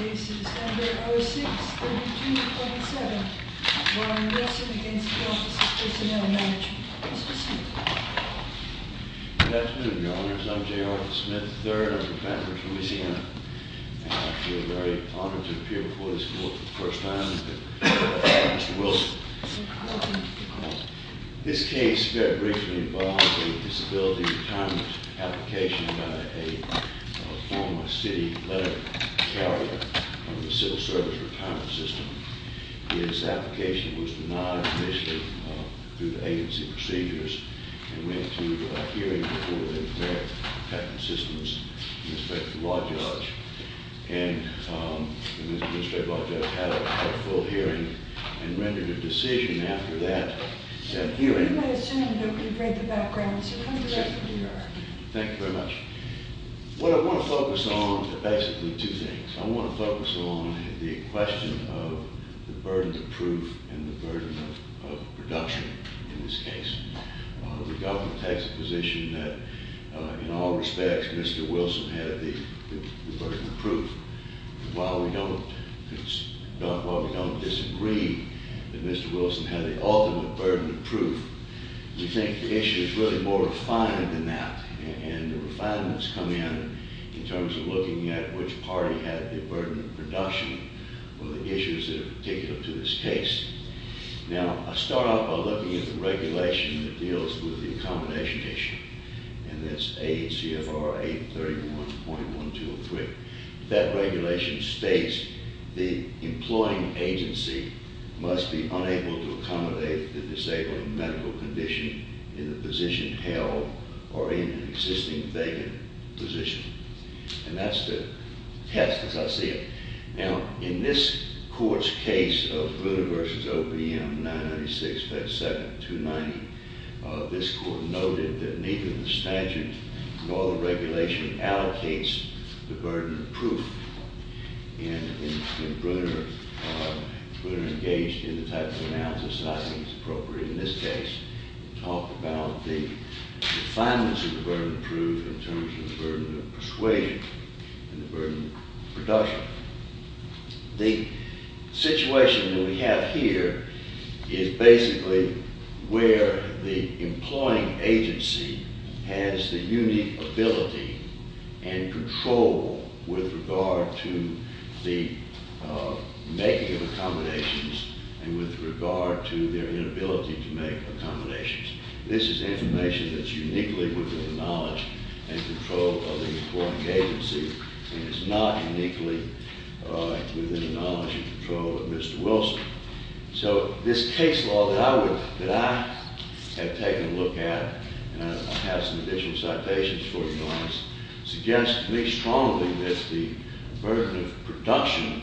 This case is number 06-3227, Warren Wilson v. Office of Personnel Management. Mr. Smith. Good afternoon, Your Honors. I'm J. Arthur Smith III. I'm from Vancouver, Louisiana. And I feel very honored to appear before this court for the first time. Mr. Wilson. Welcome. This case very briefly involves a disability retirement application by a former city letter carrier from the civil service retirement system. His application was denied initially due to agency procedures and went to a hearing before the American Patent System's administrative law judge. And the administrative law judge had a full hearing and rendered a decision after that hearing. You might have sent him a note, but he's right in the background, so he'll come directly to you, Your Honor. Thank you very much. What I want to focus on are basically two things. I want to focus on the question of the burden of proof and the burden of production in this case. The government takes the position that, in all respects, Mr. Wilson had the burden of proof. While we don't disagree that Mr. Wilson had the ultimate burden of proof, we think the issue is really more refined than that. And the refinements come in in terms of looking at which party had the burden of production on the issues that are particular to this case. Now, I start out by looking at the regulation that deals with the accommodation issue, and that's ACFR 831.123. That regulation states the employing agency must be unable to accommodate the disabled in medical condition in the position held or in an existing vacant position. And that's the test, as I see it. Now, in this court's case of Bruner v. OPM 996-57-290, this court noted that neither the statute nor the regulation allocates the burden of proof. And Bruner engaged in the type of analysis that I think is appropriate in this case to talk about the refinements of the burden of proof in terms of the burden of persuasion and the burden of production. The situation that we have here is basically where the employing agency has the unique ability and control with regard to the making of accommodations and with regard to their inability to make accommodations. This is information that's uniquely within the knowledge and control of the employing agency, and it's not uniquely within the knowledge and control of Mr. Wilson. So this case law that I have taken a look at, and I have some additional citations for you on this, suggests to me strongly that the burden of production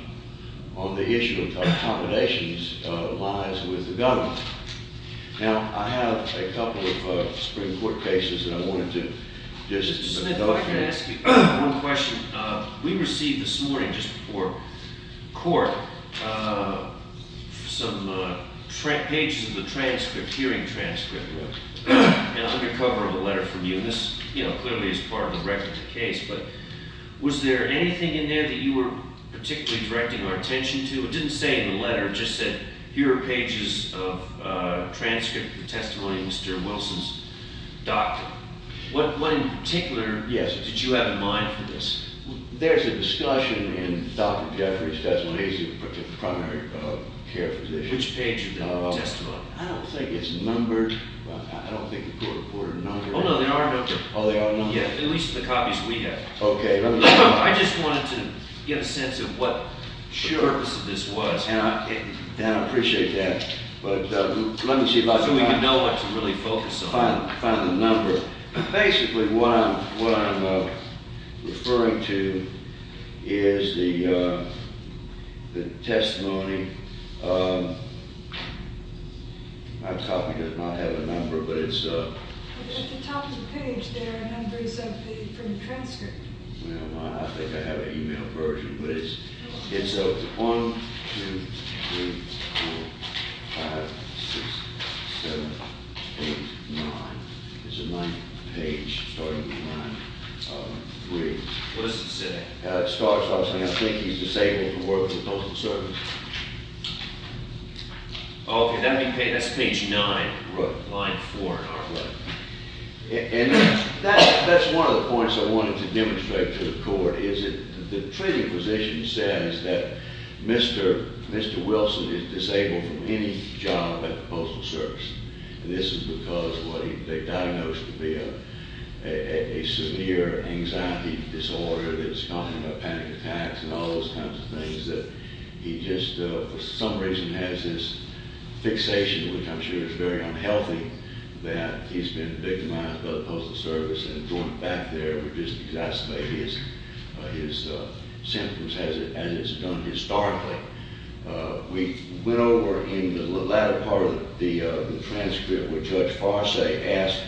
on the issue of accommodations lies with the government. Now, I have a couple of Supreme Court cases that I wanted to just— Mr. Smith, if I could ask you one question. We received this morning, just before court, some pages of the transcript, hearing transcript, under cover of a letter from you. And this clearly is part of the record of the case, but was there anything in there that you were particularly directing our attention to? It didn't say in the letter, it just said, here are pages of transcript, the testimony of Mr. Wilson's doctor. What in particular did you have in mind for this? There's a discussion in Dr. Jeffries' testimony, he's a primary care physician. Which page of the testimony? I don't think it's numbered. I don't think the court reported a number. Oh, no, there are numbers. Oh, there are numbers? Yeah, at least the copies we have. Okay. I just wanted to get a sense of what the purpose of this was. And I appreciate that, but let me see if I can find— So we can know what to really focus on. Find the number. Basically, what I'm referring to is the testimony of—my copy does not have a number, but it's— At the top of the page, there are numbers from the transcript. Well, I think I have an email version, but it's—it's 1, 2, 3, 4, 5, 6, 7, 8, 9. It's the ninth page, starting with line 3. What does it say? It starts off saying, I think he's disabled from working in the public service. Okay, that's page 9, line 4 in our book. And that's one of the points I wanted to demonstrate to the court, is that the treating physician says that Mr. Wilson is disabled from any job at the Postal Service. And this is because what he—they diagnosed him to be a severe anxiety disorder that's caused him to have panic attacks and all those kinds of things, that he just, for some reason, has this fixation, which I'm sure is very unhealthy, that he's been victimized by the Postal Service. And going back there would just exacerbate his symptoms as it's done historically. We went over in the latter part of the transcript, which Judge Farseh asked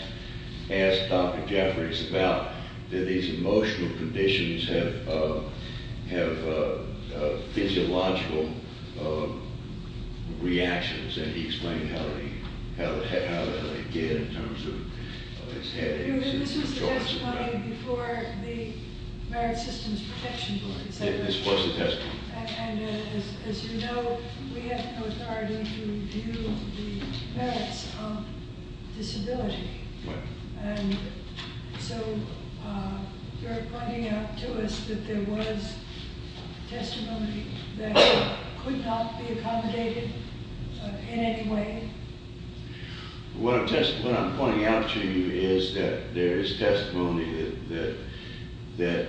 Dr. Jeffries about, did these emotional conditions have physiological reactions? And he explained how they get in terms of his headaches and his jaunts and that. This was the testimony before the Marriage Systems Protection Board. Yeah, this was the testimony. And as you know, we have no authority to review the merits of disability. And so you're pointing out to us that there was testimony that could not be accommodated in any way. What I'm pointing out to you is that there is testimony that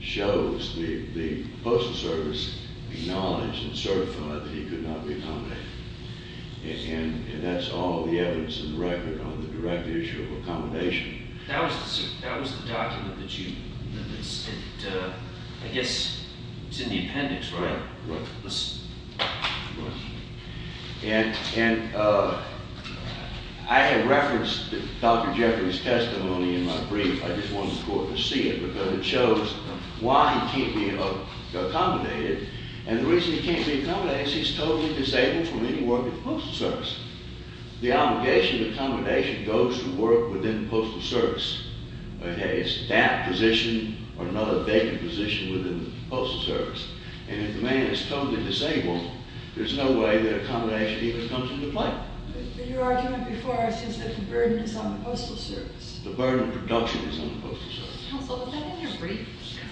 shows the Postal Service acknowledged and certified that he could not be accommodated. And that's all the evidence in the record on the direct issue of accommodation. That was the document that you—I guess it's in the appendix, right? Right. And I have referenced Dr. Jeffries' testimony in my brief. I just wanted the court to see it because it shows why he can't be accommodated. And the reason he can't be accommodated is he's totally disabled from any work at the Postal Service. The obligation of accommodation goes to work within the Postal Service. It's that position or another vacant position within the Postal Service. And if the man is totally disabled, there's no way that accommodation even comes into play. But your argument before us is that the burden is on the Postal Service. The burden of production is on the Postal Service. Counsel, was that in your brief?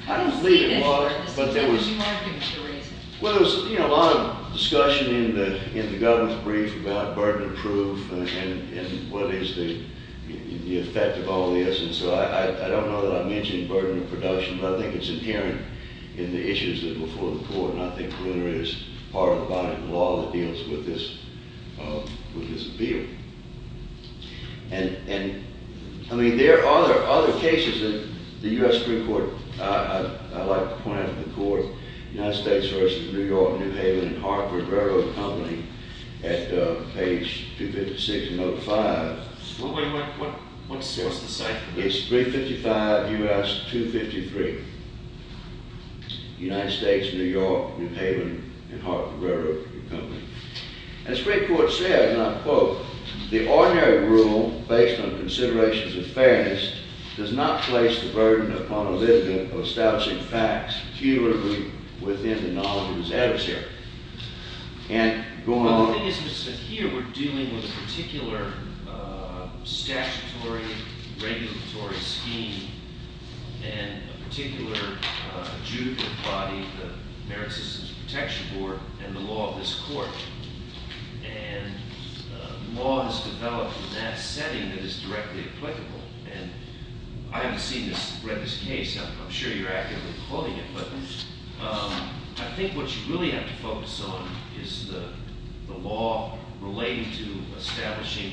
I don't believe it was, but there was— I don't see it as a burden. It's a different argument for a reason. Well, there was a lot of discussion in the government's brief about burden of proof and what is the effect of all this. And so I don't know that I mentioned burden of production, but I think it's inherent in the issues before the court. And I think there is part of the body of law that deals with this appeal. And, I mean, there are other cases that the U.S. Supreme Court—I like to point out to the court— United States versus New York, New Haven, and Hartford Railroad Company at page 256 and note 5. What's the site? It's 355 U.S. 253. United States, New York, New Haven, and Hartford Railroad Company. And the Supreme Court said, and I quote, The ordinary rule, based on considerations of fairness, does not place the burden upon a litigant of establishing facts. He would agree within the knowledge of his adversary. And going on— Well, the thing is that here we're dealing with a particular statutory regulatory scheme and a particular adjudicative body, the American Citizens Protection Board, and the law of this court. And the law has developed in that setting that is directly applicable. And I haven't seen this, read this case. I'm sure you're actively holding it. But I think what you really have to focus on is the law relating to establishing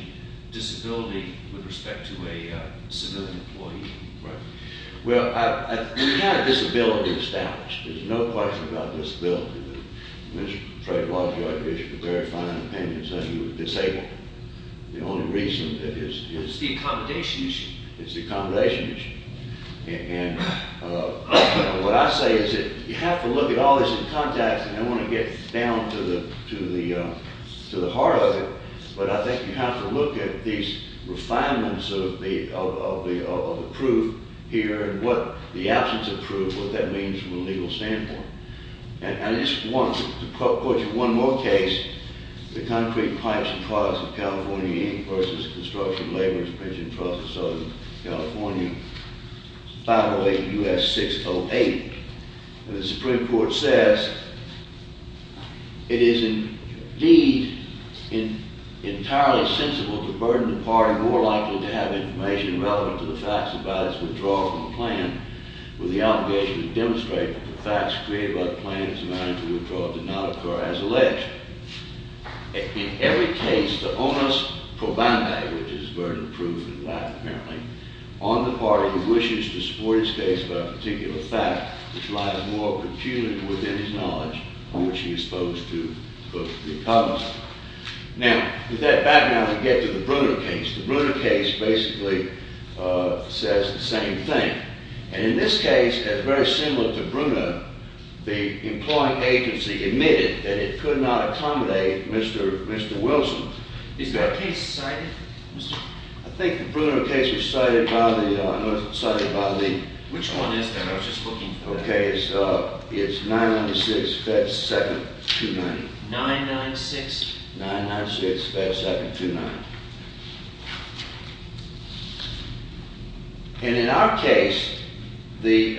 disability with respect to a civilian employee. Right. Well, we have disability established. There's no question about disability. Mr. Trelawney, I appreciate your very fine opinion, saying you were disabled. The only reason is— It's the accommodation issue. It's the accommodation issue. And what I say is that you have to look at all this in context, and I don't want to get down to the heart of it, but I think you have to look at these refinements of the proof here and what the absence of proof, what that means from a legal standpoint. And I just want to quote you one more case, the Concrete Pipes and Products of California, Inc., versus Construction Laborers Pension Trust of Southern California, 508 U.S. 608. And the Supreme Court says, It is indeed entirely sensible to burden the party more likely to have information relevant to the facts about its withdrawal from the plan with the obligation to demonstrate that the facts created by the plan as a matter of withdrawal did not occur as alleged. In every case, the onus pro bono, which is burden of proof in life, apparently, on the party who wishes to support its case about a particular fact, which lies more peculiarly within his knowledge than what he is supposed to, quote, Now, with that background, we get to the Brunner case. The Brunner case basically says the same thing. And in this case, as very similar to Brunner, the employing agency admitted that it could not accommodate Mr. Wilson. Is that case cited? I think the Brunner case was cited by the... Which one is that? I was just looking for that. Okay, it's 996 Fed 729. 996? 996 Fed 729. And in our case, the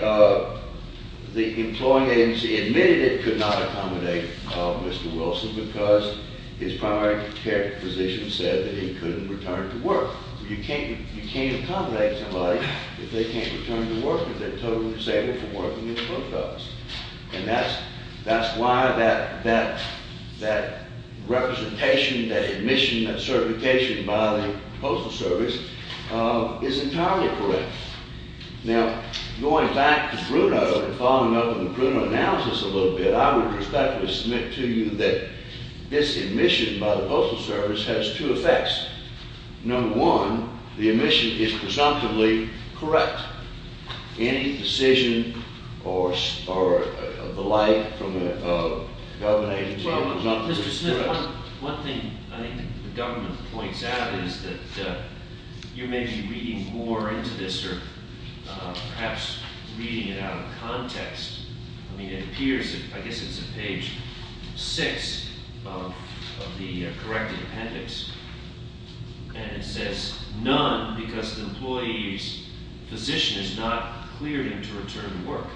employing agency admitted it could not accommodate Mr. Wilson because his primary care physician said that he couldn't return to work. You can't accommodate somebody if they can't return to work, if they're totally disabled from working in the post office. And that's why that representation, that admission, that certification by the Postal Service is entirely correct. Now, going back to Brunner and following up on the Brunner analysis a little bit, I would respectfully submit to you that this admission by the Postal Service has two effects. Number one, the admission is presumptively correct. Any decision or the like from a government agency is presumptively correct. Mr. Smith, one thing I think the government points out is that you may be reading more into this or perhaps reading it out of context. I mean, it appears, I guess it's on page six of the corrected appendix, and it says none because the employee's physician is not cleared him to return to work.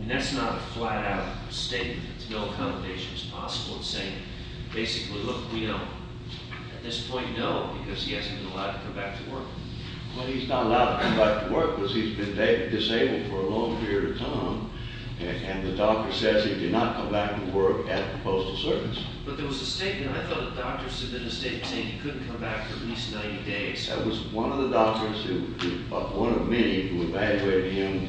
And that's not a flat-out statement. It's no accommodations possible in saying basically, look, we don't. At this point, no, because he hasn't been allowed to come back to work. Well, he's not allowed to come back to work because he's been disabled for a long period of time and the doctor says he cannot come back to work at the Postal Service. But there was a statement. I thought the doctor submitted a statement saying he couldn't come back for at least 90 days. That was one of the doctors, one of many, who evaluated him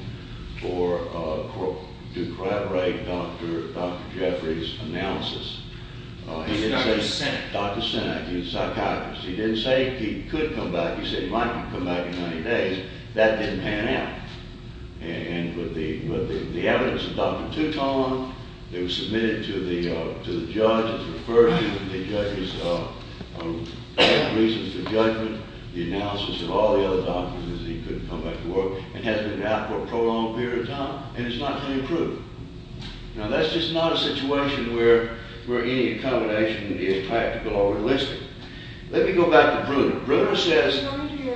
to corroborate Dr. Jeffrey's analysis. It was Dr. Sinek. Dr. Sinek, he was a psychiatrist. He didn't say he could come back. He said he might not come back in 90 days. That didn't pan out. And with the evidence that Dr. Took on, it was submitted to the judge, it was referred to the judge's reasons for judgment. The analysis of all the other doctors is he couldn't come back to work and has been out for a prolonged period of time, and it's not been approved. Now, that's just not a situation where any accommodation would be as practical or realistic. Let me go back to Bruner. Bruner says— Well, let me go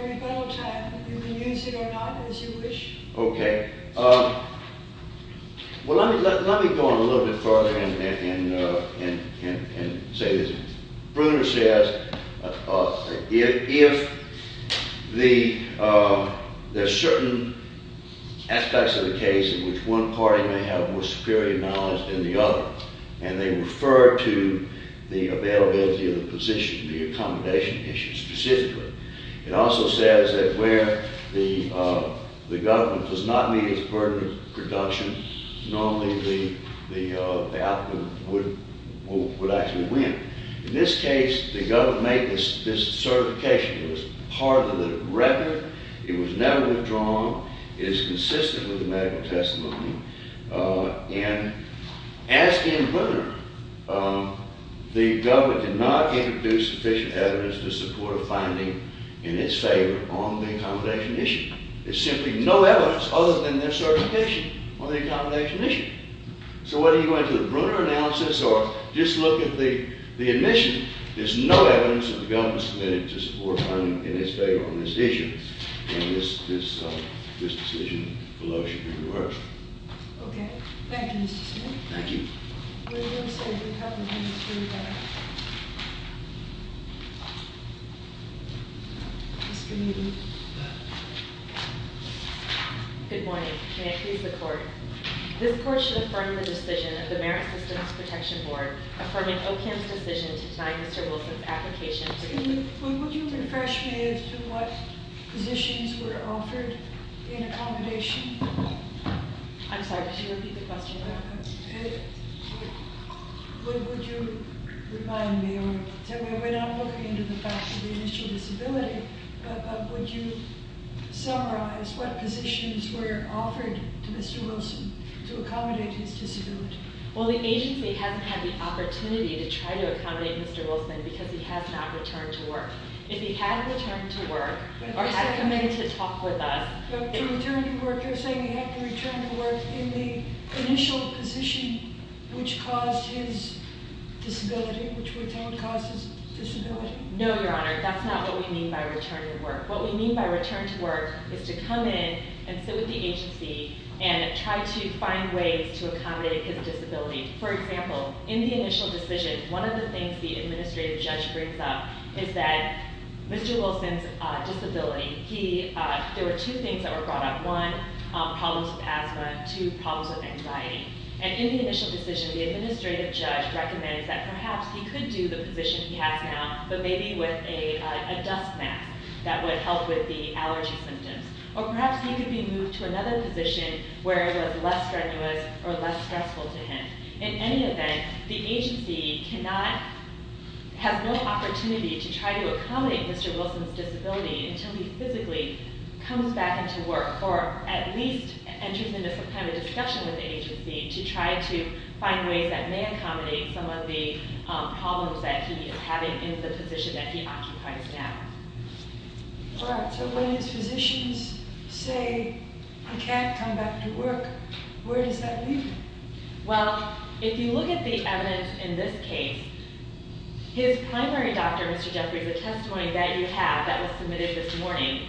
on a little bit further and say this. Bruner says if there's certain aspects of the case in which one party may have more superior knowledge than the other, and they refer to the availability of the position, the accommodation issue specifically. It also says that where the government does not meet its burden of production, normally the applicant would actually win. In this case, the government made this certification. It was part of the record. It was never withdrawn. It is consistent with the medical testimony. And as in Bruner, the government did not introduce sufficient evidence to support a finding in its favor on the accommodation issue. There's simply no evidence other than their certification on the accommodation issue. So whether you go into the Bruner analysis or just look at the admission, there's no evidence that the government submitted to support a finding in its favor on this issue. And this decision below should be reversed. Okay. Thank you, Mr. Smith. Thank you. Good morning. May I please the Court? This Court should affirm the decision of the Merit Systems Protection Board affirming OCAM's decision to deny Mr. Wilson's application. Would you refresh me as to what positions were offered in accommodation? I'm sorry, could you repeat the question? Would you remind me or tell me, we're not looking into the fact of the initial disability, but would you summarize what positions were offered to Mr. Wilson to accommodate his disability? Well, the agency hasn't had the opportunity to try to accommodate Mr. Wilson because he has not returned to work. If he had returned to work or had committed to talk with us- But to return to work, you're saying he had to return to work in the initial position which caused his disability, which we're telling causes disability? No, Your Honor. That's not what we mean by return to work. What we mean by return to work is to come in and sit with the agency and try to find ways to accommodate his disability. For example, in the initial decision, one of the things the administrative judge brings up is that Mr. Wilson's disability, there were two things that were brought up. One, problems with asthma. Two, problems with anxiety. And in the initial decision, the administrative judge recommends that perhaps he could do the position he has now, but maybe with a dust mask that would help with the allergy symptoms. Or perhaps he could be moved to another position where it was less strenuous or less stressful to him. In any event, the agency cannot- has no opportunity to try to accommodate Mr. Wilson's disability until he physically comes back into work or at least enters into some kind of discussion with the agency to try to find ways that may accommodate some of the problems that he is having in the position that he occupies now. All right. So when his physicians say he can't come back to work, where does that leave him? Well, if you look at the evidence in this case, his primary doctor, Mr. Jeffries, the testimony that you have that was submitted this morning,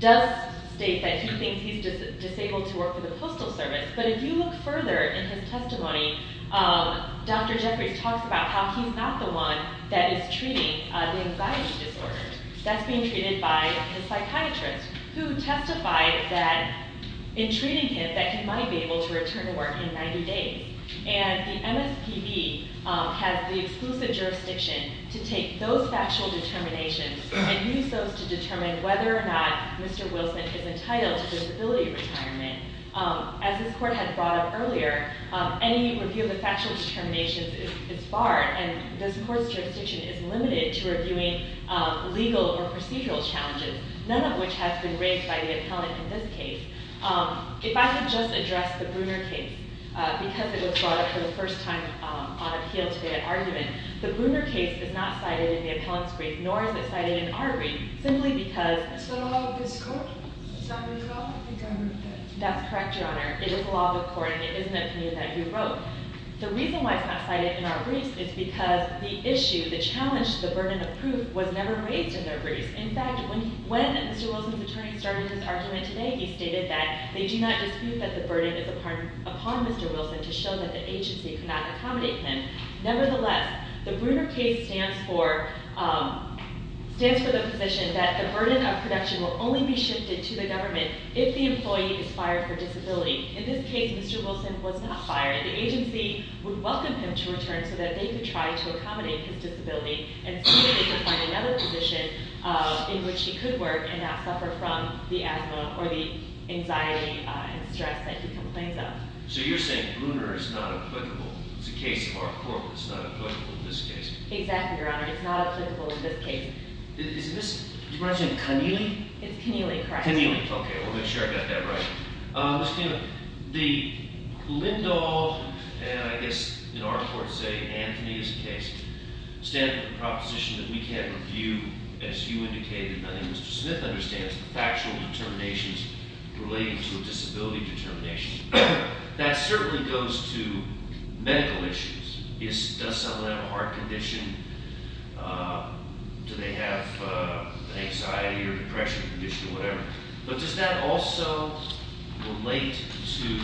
does state that he thinks he's disabled to work for the Postal Service. But if you look further in his testimony, Dr. Jeffries talks about how he's not the one that is treating the anxiety disorder. That's being treated by his psychiatrist, who testified that in treating him that he might be able to return to work in 90 days. And the MSPB has the exclusive jurisdiction to take those factual determinations and use those to determine whether or not Mr. Wilson is entitled to disability retirement. As this court had brought up earlier, any review of the factual determinations is barred, and this court's jurisdiction is limited to reviewing legal or procedural challenges, none of which has been raised by the appellant in this case. If I could just address the Bruner case, because it was brought up for the first time on appeal today at argument, the Bruner case is not cited in the appellant's brief, nor is it cited in our brief, simply because— That's correct, Your Honor. It is a law of the court, and it is an opinion that you wrote. The reason why it's not cited in our briefs is because the issue, the challenge, the burden of proof was never raised in their briefs. In fact, when Mr. Wilson's attorney started his argument today, he stated that they do not dispute that the burden is upon Mr. Wilson to show that the agency could not accommodate him. Nevertheless, the Bruner case stands for the position that the burden of protection will only be shifted to the government if the employee is fired for disability. In this case, Mr. Wilson was not fired. The agency would welcome him to return so that they could try to accommodate his disability and see if they could find another position in which he could work and not suffer from the asthma or the anxiety and stress that he complains of. So you're saying Bruner is not applicable. It's a case of our court that's not applicable in this case. Exactly, Your Honor. It's not applicable in this case. Is this—did you bring up something? Keneally? It's Keneally, correct. Keneally. Okay. We'll make sure I got that right. Mr. Keneally, the Lindahl—and I guess in our court to say Anthony is the case—stands for the proposition that we can't review, as you indicated, and I think Mr. Smith understands, the factual determinations relating to a disability determination. That certainly goes to medical issues. Does someone have a heart condition? Do they have an anxiety or depression condition or whatever? But does that also relate to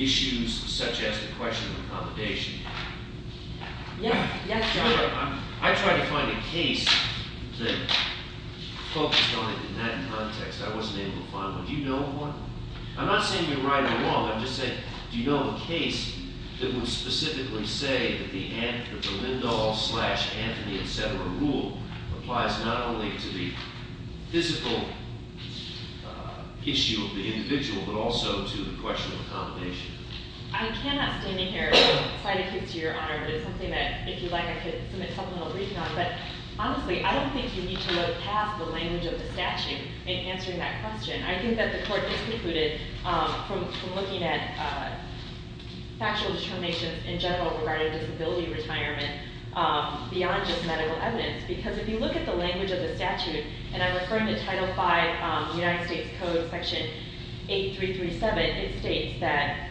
issues such as the question of accommodation? Yes. Your Honor, I tried to find a case that focused on it. In that context, I wasn't able to find one. Do you know of one? I'm not saying you're right or wrong. I'm just saying, do you know of a case that would specifically say that the Lindahl-Anthony, etc. rule applies not only to the physical issue of the individual but also to the question of accommodation? I cannot stand here and cite a case to Your Honor, but it's something that, if you'd like, I could submit supplemental reading on. But honestly, I don't think you need to look past the language of the statute in answering that question. I think that the Court has concluded from looking at factual determinations in general regarding disability retirement beyond just medical evidence. Because if you look at the language of the statute, and I'm referring to Title V, United States Code, Section 8337, it states that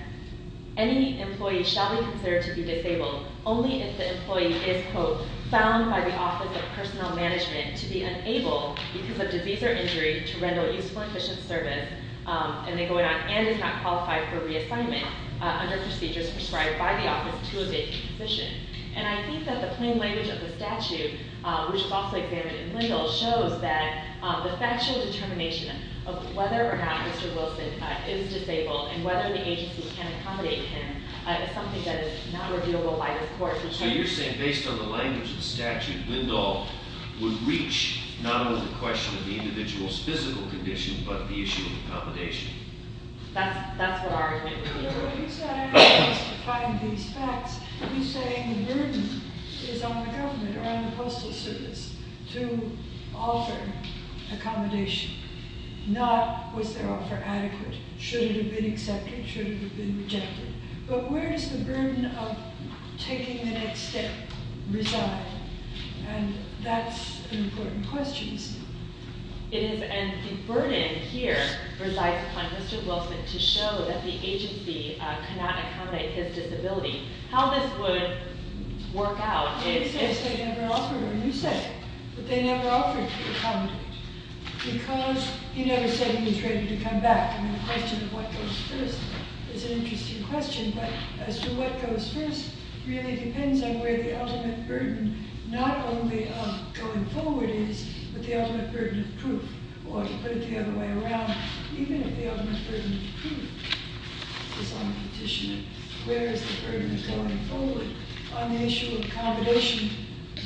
any employee shall be considered to be disabled only if the employee is, quote, found by the Office of Personnel Management to be unable, because of disease or injury, to render useful and efficient service, and is not qualified for reassignment under procedures prescribed by the office to a date and position. And I think that the plain language of the statute, which is also examined in Lindahl, shows that the factual determination of whether or not Mr. Wilson is disabled and whether the agency can accommodate him is something that is not reviewable by this Court. So you're saying, based on the language of the statute, Lindahl would reach not only the question of the individual's physical condition but the issue of accommodation? That's what our argument would be. But what he's not asking us to find these facts. He's saying the burden is on the government or on the Postal Service to offer accommodation, not was their offer adequate. Should it have been accepted? Should it have been rejected? But where does the burden of taking the next step reside? And that's an important question, isn't it? And the burden here resides upon Mr. Wilson to show that the agency cannot accommodate his disability. How this would work out is... Or to put it the other way around, even if the ultimate burden of proof is on the petitioner, where is the burden going forward on the issue of accommodation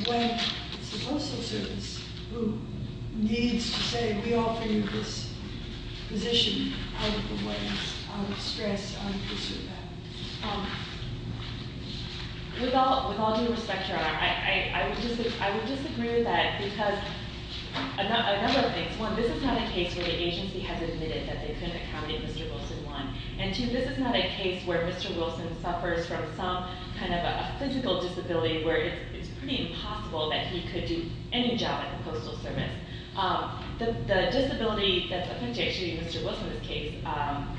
when it's the Postal Service who needs to say, we offer you this position out of the way, out of stress, out of concern. With all due respect, Your Honor, I would disagree with that because of a number of things. One, this is not a case where the agency has admitted that they couldn't accommodate Mr. Wilson, one. And two, this is not a case where Mr. Wilson suffers from some kind of a physical disability where it's pretty impossible that he could do any job at the Postal Service. The disability that's appendix to Mr. Wilson's case,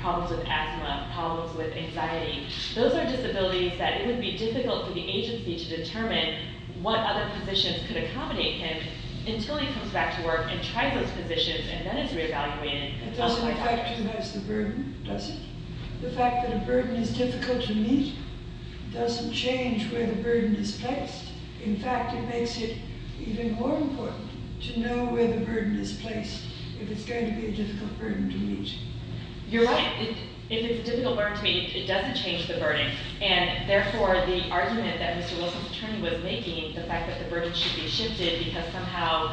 problems with asthma, problems with anxiety, those are disabilities that it would be difficult for the agency to determine what other positions could accommodate him until he comes back to work and tries those positions and then is re-evaluated. It doesn't affect who has the burden, does it? The fact that a burden is difficult to meet doesn't change where the burden is placed. In fact, it makes it even more important to know where the burden is placed if it's going to be a difficult burden to meet. You're right. If it's a difficult burden to meet, it doesn't change the burden. And therefore, the argument that Mr. Wilson's attorney was making, the fact that the burden should be shifted because somehow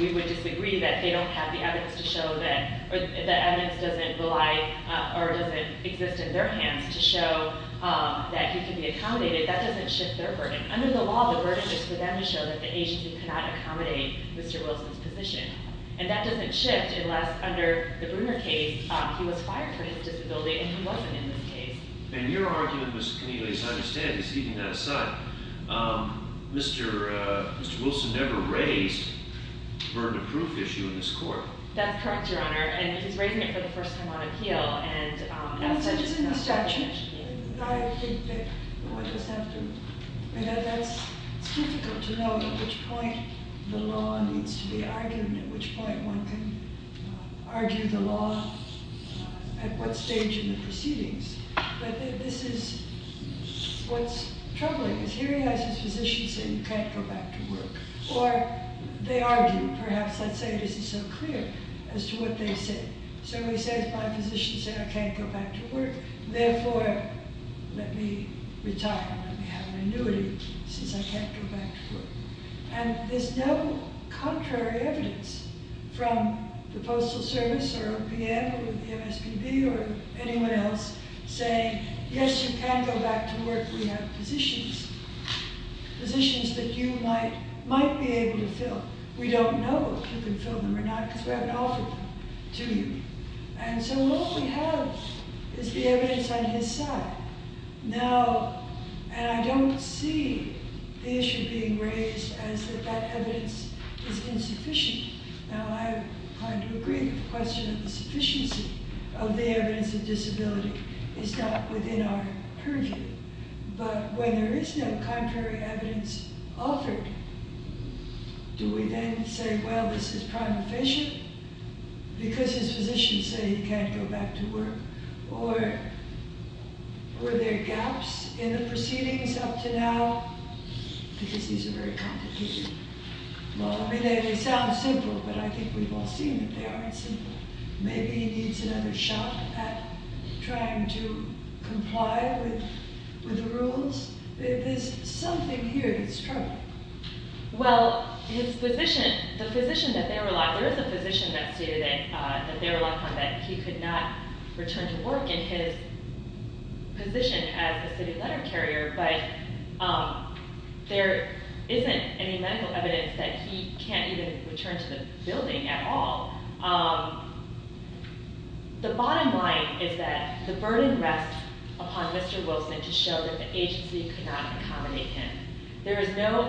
we would disagree that they don't have the evidence to show that, or the evidence doesn't rely or doesn't exist in their hands to show that he can be accommodated, that doesn't shift their burden. Under the law, the burden is for them to show that the agency cannot accommodate Mr. Wilson's position. And that doesn't shift unless, under the Bruner case, he was fired for his disability and he wasn't in this case. And your argument, Ms. Keneally, as I understand it, is keeping that aside. Mr. Wilson never raised the burden of proof issue in this court. That's correct, Your Honor. And he's raising it for the first time on appeal. It's in the statute. It's difficult to know at which point the law needs to be argued and at which point one can argue the law at what stage in the proceedings. But this is what's troubling, is here he has his physician say, you can't go back to work. Or they argue, perhaps, let's say this is so clear as to what they say. So he says, my physician says, I can't go back to work. Therefore, let me retire, let me have an annuity, since I can't go back to work. And there's no contrary evidence from the Postal Service or OPM or the MSPB or anyone else saying, yes, you can go back to work, we have positions, positions that you might be able to fill. We don't know if you can fill them or not, because we haven't offered them to you. And so all we have is the evidence on his side. Now, and I don't see the issue being raised as that that evidence is insufficient. Now, I'm inclined to agree that the question of the sufficiency of the evidence of disability is not within our purview. But when there is no contrary evidence offered, do we then say, well, this is prime efficient, because his physicians say he can't go back to work? Or were there gaps in the proceedings up to now? Because these are very complicated. Well, I mean, they sound simple, but I think we've all seen that they aren't simple. Maybe he needs another shot at trying to comply with the rules. There's something here that's troubling. Well, his physician, the physician that they were locked on, there is a physician that they were locked on that he could not return to work in his position as a city letter carrier, but there isn't any medical evidence that he can't even return to the building at all. The bottom line is that the burden rests upon Mr. Wilson to show that the agency could not accommodate him. There is no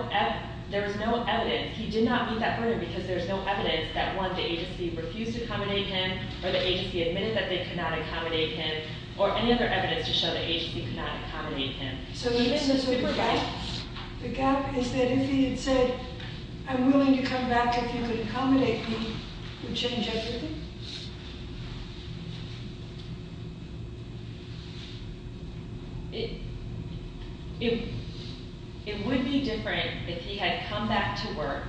evidence. He did not meet that burden because there is no evidence that, one, the agency refused to accommodate him, or the agency admitted that they could not accommodate him, or any other evidence to show the agency could not accommodate him. The gap is that if he had said, I'm willing to come back if you would accommodate me, would change everything? It would be different if he had come back to work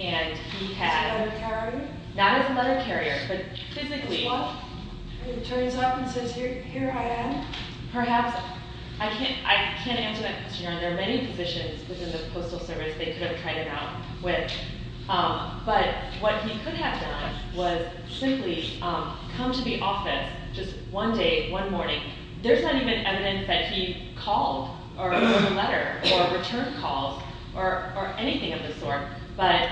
and he had... As a letter carrier? Not as a letter carrier, but physically. What? He turns up and says, here I am? Perhaps, I can't answer that question. There are many positions within the Postal Service they could have tried him out with, but what he could have done was simply come to the office just one day, one morning. There's not even evidence that he called or wrote a letter or returned calls or anything of the sort, but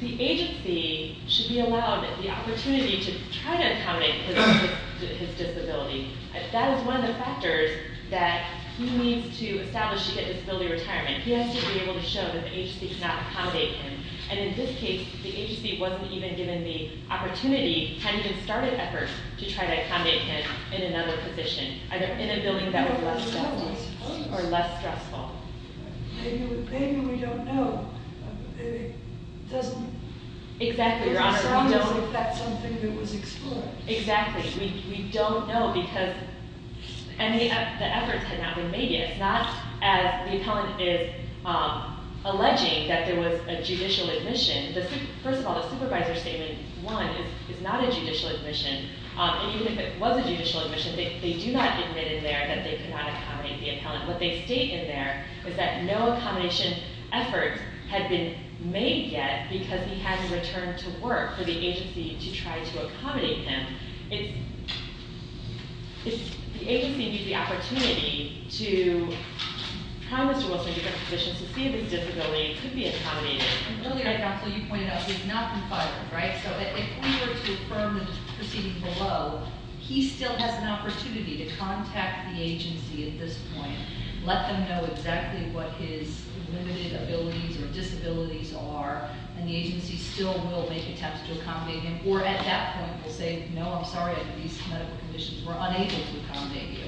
the agency should be allowed the opportunity to try to accommodate his disability. That is one of the factors that he needs to establish to get disability retirement. He has to be able to show that the agency cannot accommodate him, and in this case, the agency wasn't even given the opportunity, hadn't even started efforts, to try to accommodate him in another position, either in a building that was less comfortable or less stressful. Maybe we don't know. It doesn't... Exactly, Your Honor. It doesn't sound as if that's something that was explored. Exactly. We don't know because the efforts had not been made yet. It's not as the appellant is alleging that there was a judicial admission. First of all, the supervisor's statement, one, is not a judicial admission, and even if it was a judicial admission, they do not admit in there that they could not accommodate the appellant. What they state in there is that no accommodation efforts had been made yet because he hadn't returned to work for the agency to try to accommodate him. The agency needs the opportunity to promise to Wilson different positions to see if his disability could be accommodated. Earlier, Counsel, you pointed out he's not been fired, right? So if we were to affirm the proceeding below, he still has an opportunity to contact the agency at this point, let them know exactly what his limited abilities or disabilities are, and the agency still will make attempts to accommodate him, or at that point will say, no, I'm sorry, under these medical conditions, we're unable to accommodate you.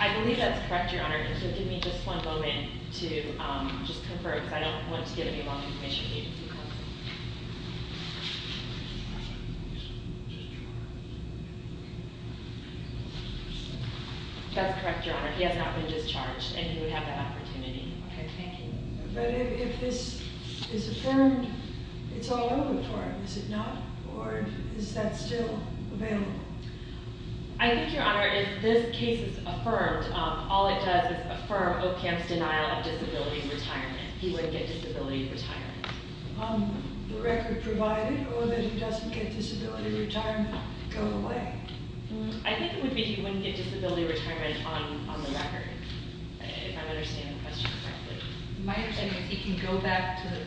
I believe that's correct, Your Honor, and so give me just one moment to just confer because I don't want to give any wrong information to the agency, Counsel. He has not been discharged. That's correct, Your Honor, he has not been discharged, and he would have that opportunity. Okay, thank you. But if this is affirmed, it's all over for him, is it not? Or is that still available? I think, Your Honor, if this case is affirmed, all it does is affirm OPM's denial of disability retirement. He would get disability retirement. The record provided or that he doesn't get disability retirement go away. I think it would be he wouldn't get disability retirement on the record, if I'm understanding the question correctly. My understanding is he can go back to his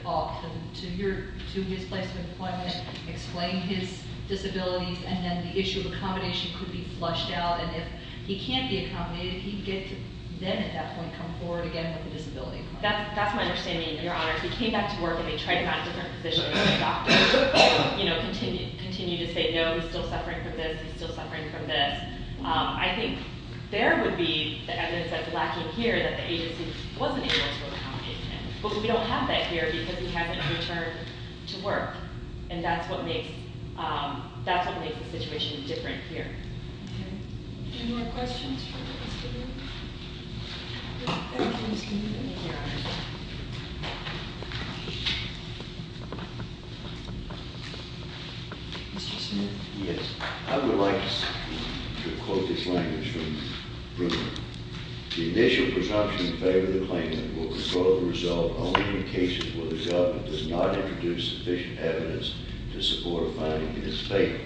place of employment, explain his disabilities, and then the issue of accommodation could be flushed out, and if he can't be accommodated, he'd get to then at that point come forward again with a disability. That's my understanding, Your Honor. If he came back to work and they tried him out in different positions, continued to say, no, he's still suffering from this, he's still suffering from this, I think there would be the evidence that's lacking here that the agency wasn't able to accommodate him. But we don't have that here because he hasn't returned to work, and that's what makes the situation different here. Any more questions for Mr. Bruner? Mr. Smith. Yes. I would like to quote this language from Bruner. The initial presumption in favor of the claimant will result only in cases where the government does not introduce sufficient evidence to support a finding in its favor.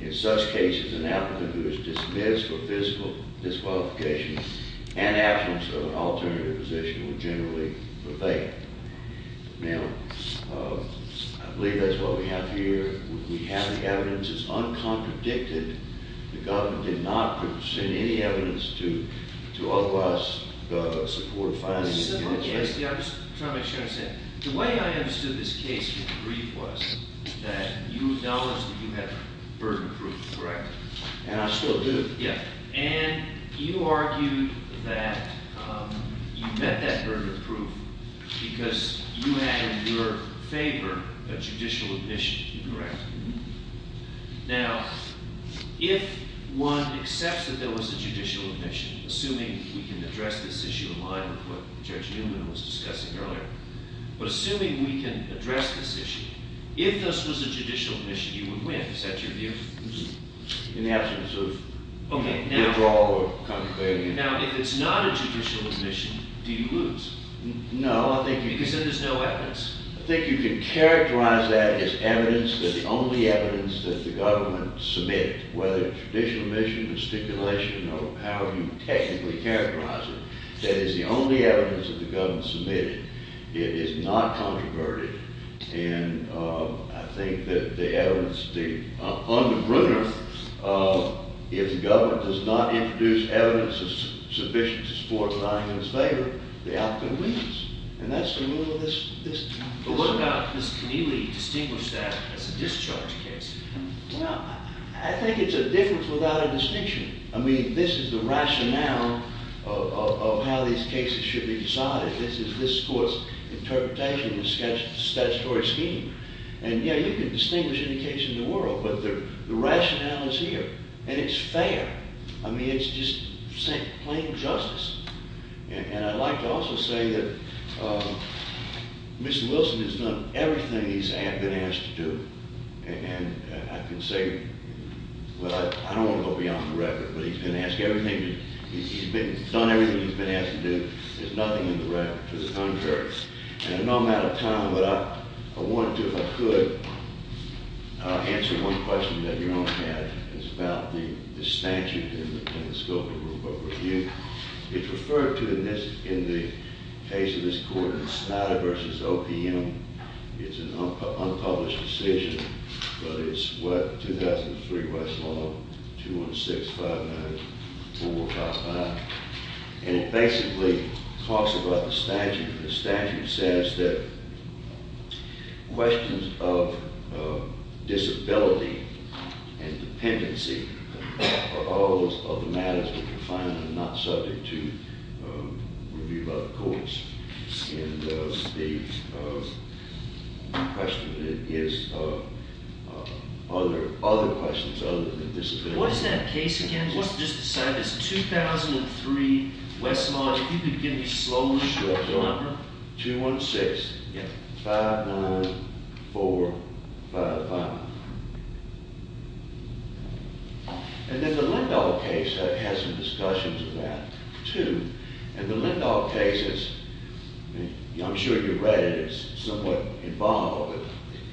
In such cases, an applicant who is dismissed for physical disqualification and absence of an alternative position will generally rebate. Now, I believe that's what we have here. We have the evidence. It's uncontradicted. The government did not present any evidence to offer us the support finding. I'm just trying to make sure I understand. The way I understood this case, if you agree, was that you acknowledged that you had burden proof, correct? And I still do. Yeah. And you argued that you met that burden of proof because you had in your favor a judicial admission, correct? Mm-hmm. Now, if one accepts that there was a judicial admission, assuming we can address this issue in line with what Judge Newman was discussing earlier, but assuming we can address this issue, if this was a judicial admission, you would win. Is that your view? In the absence of withdrawal or conciliation. Now, if it's not a judicial admission, do you lose? No. Because then there's no evidence. I think you can characterize that as evidence that the only evidence that the government submitted, whether it's judicial admission, gesticulation, or however you technically characterize it, that is the only evidence that the government submitted. It is not controverted. And I think that the evidence, on the bruner, if the government does not introduce evidence sufficient to support lying in its favor, the outcome wins. And that's the rule of this case. But what about Ms. Keneally distinguished that as a discharge case? Well, I think it's a difference without a distinction. I mean, this is the rationale of how these cases should be decided. This is this court's interpretation of the statutory scheme. And yeah, you can distinguish any case in the world, but the rationale is here. And it's fair. I mean, it's just plain justice. And I'd like to also say that Mr. Wilson has done everything he's been asked to do. And I can say, well, I don't want to go beyond the record, but he's been asked everything. He's done everything he's been asked to do. There's nothing in the record to the contrary. And I know I'm out of time, but I wanted to, if I could, answer one question that your Honor had. It's about the statute in the scope of the rulebook review. It's referred to in the case of this court in Snyder v. OPM. It's an unpublished decision, but it's what? 2003 West Law, 216-504-55. And it basically talks about the statute. The statute says that questions of disability and dependency are all of the matters that are defined and are not subject to review by the courts. And the question is, are there other questions other than disability? What is that case again? It's 2003 West Law. If you could give me slowly the number. 216-594-55. And then the Lindahl case has some discussions of that too. And the Lindahl case is, I'm sure you've read it. It's somewhat involved.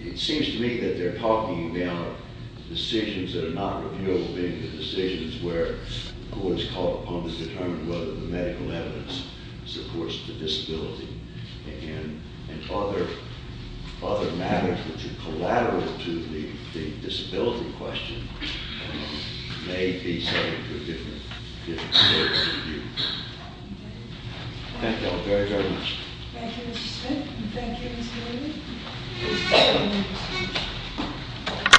It seems to me that they're talking about decisions that are not reviewable, being the decisions where the court is called upon to determine whether the medical evidence supports the disability. And other matters that are collateral to the disability question may be subject to a different state of review. Thank you all very, very much. Thank you, Mr. Smith. Thank you, Ms. Haley. We're adjourned.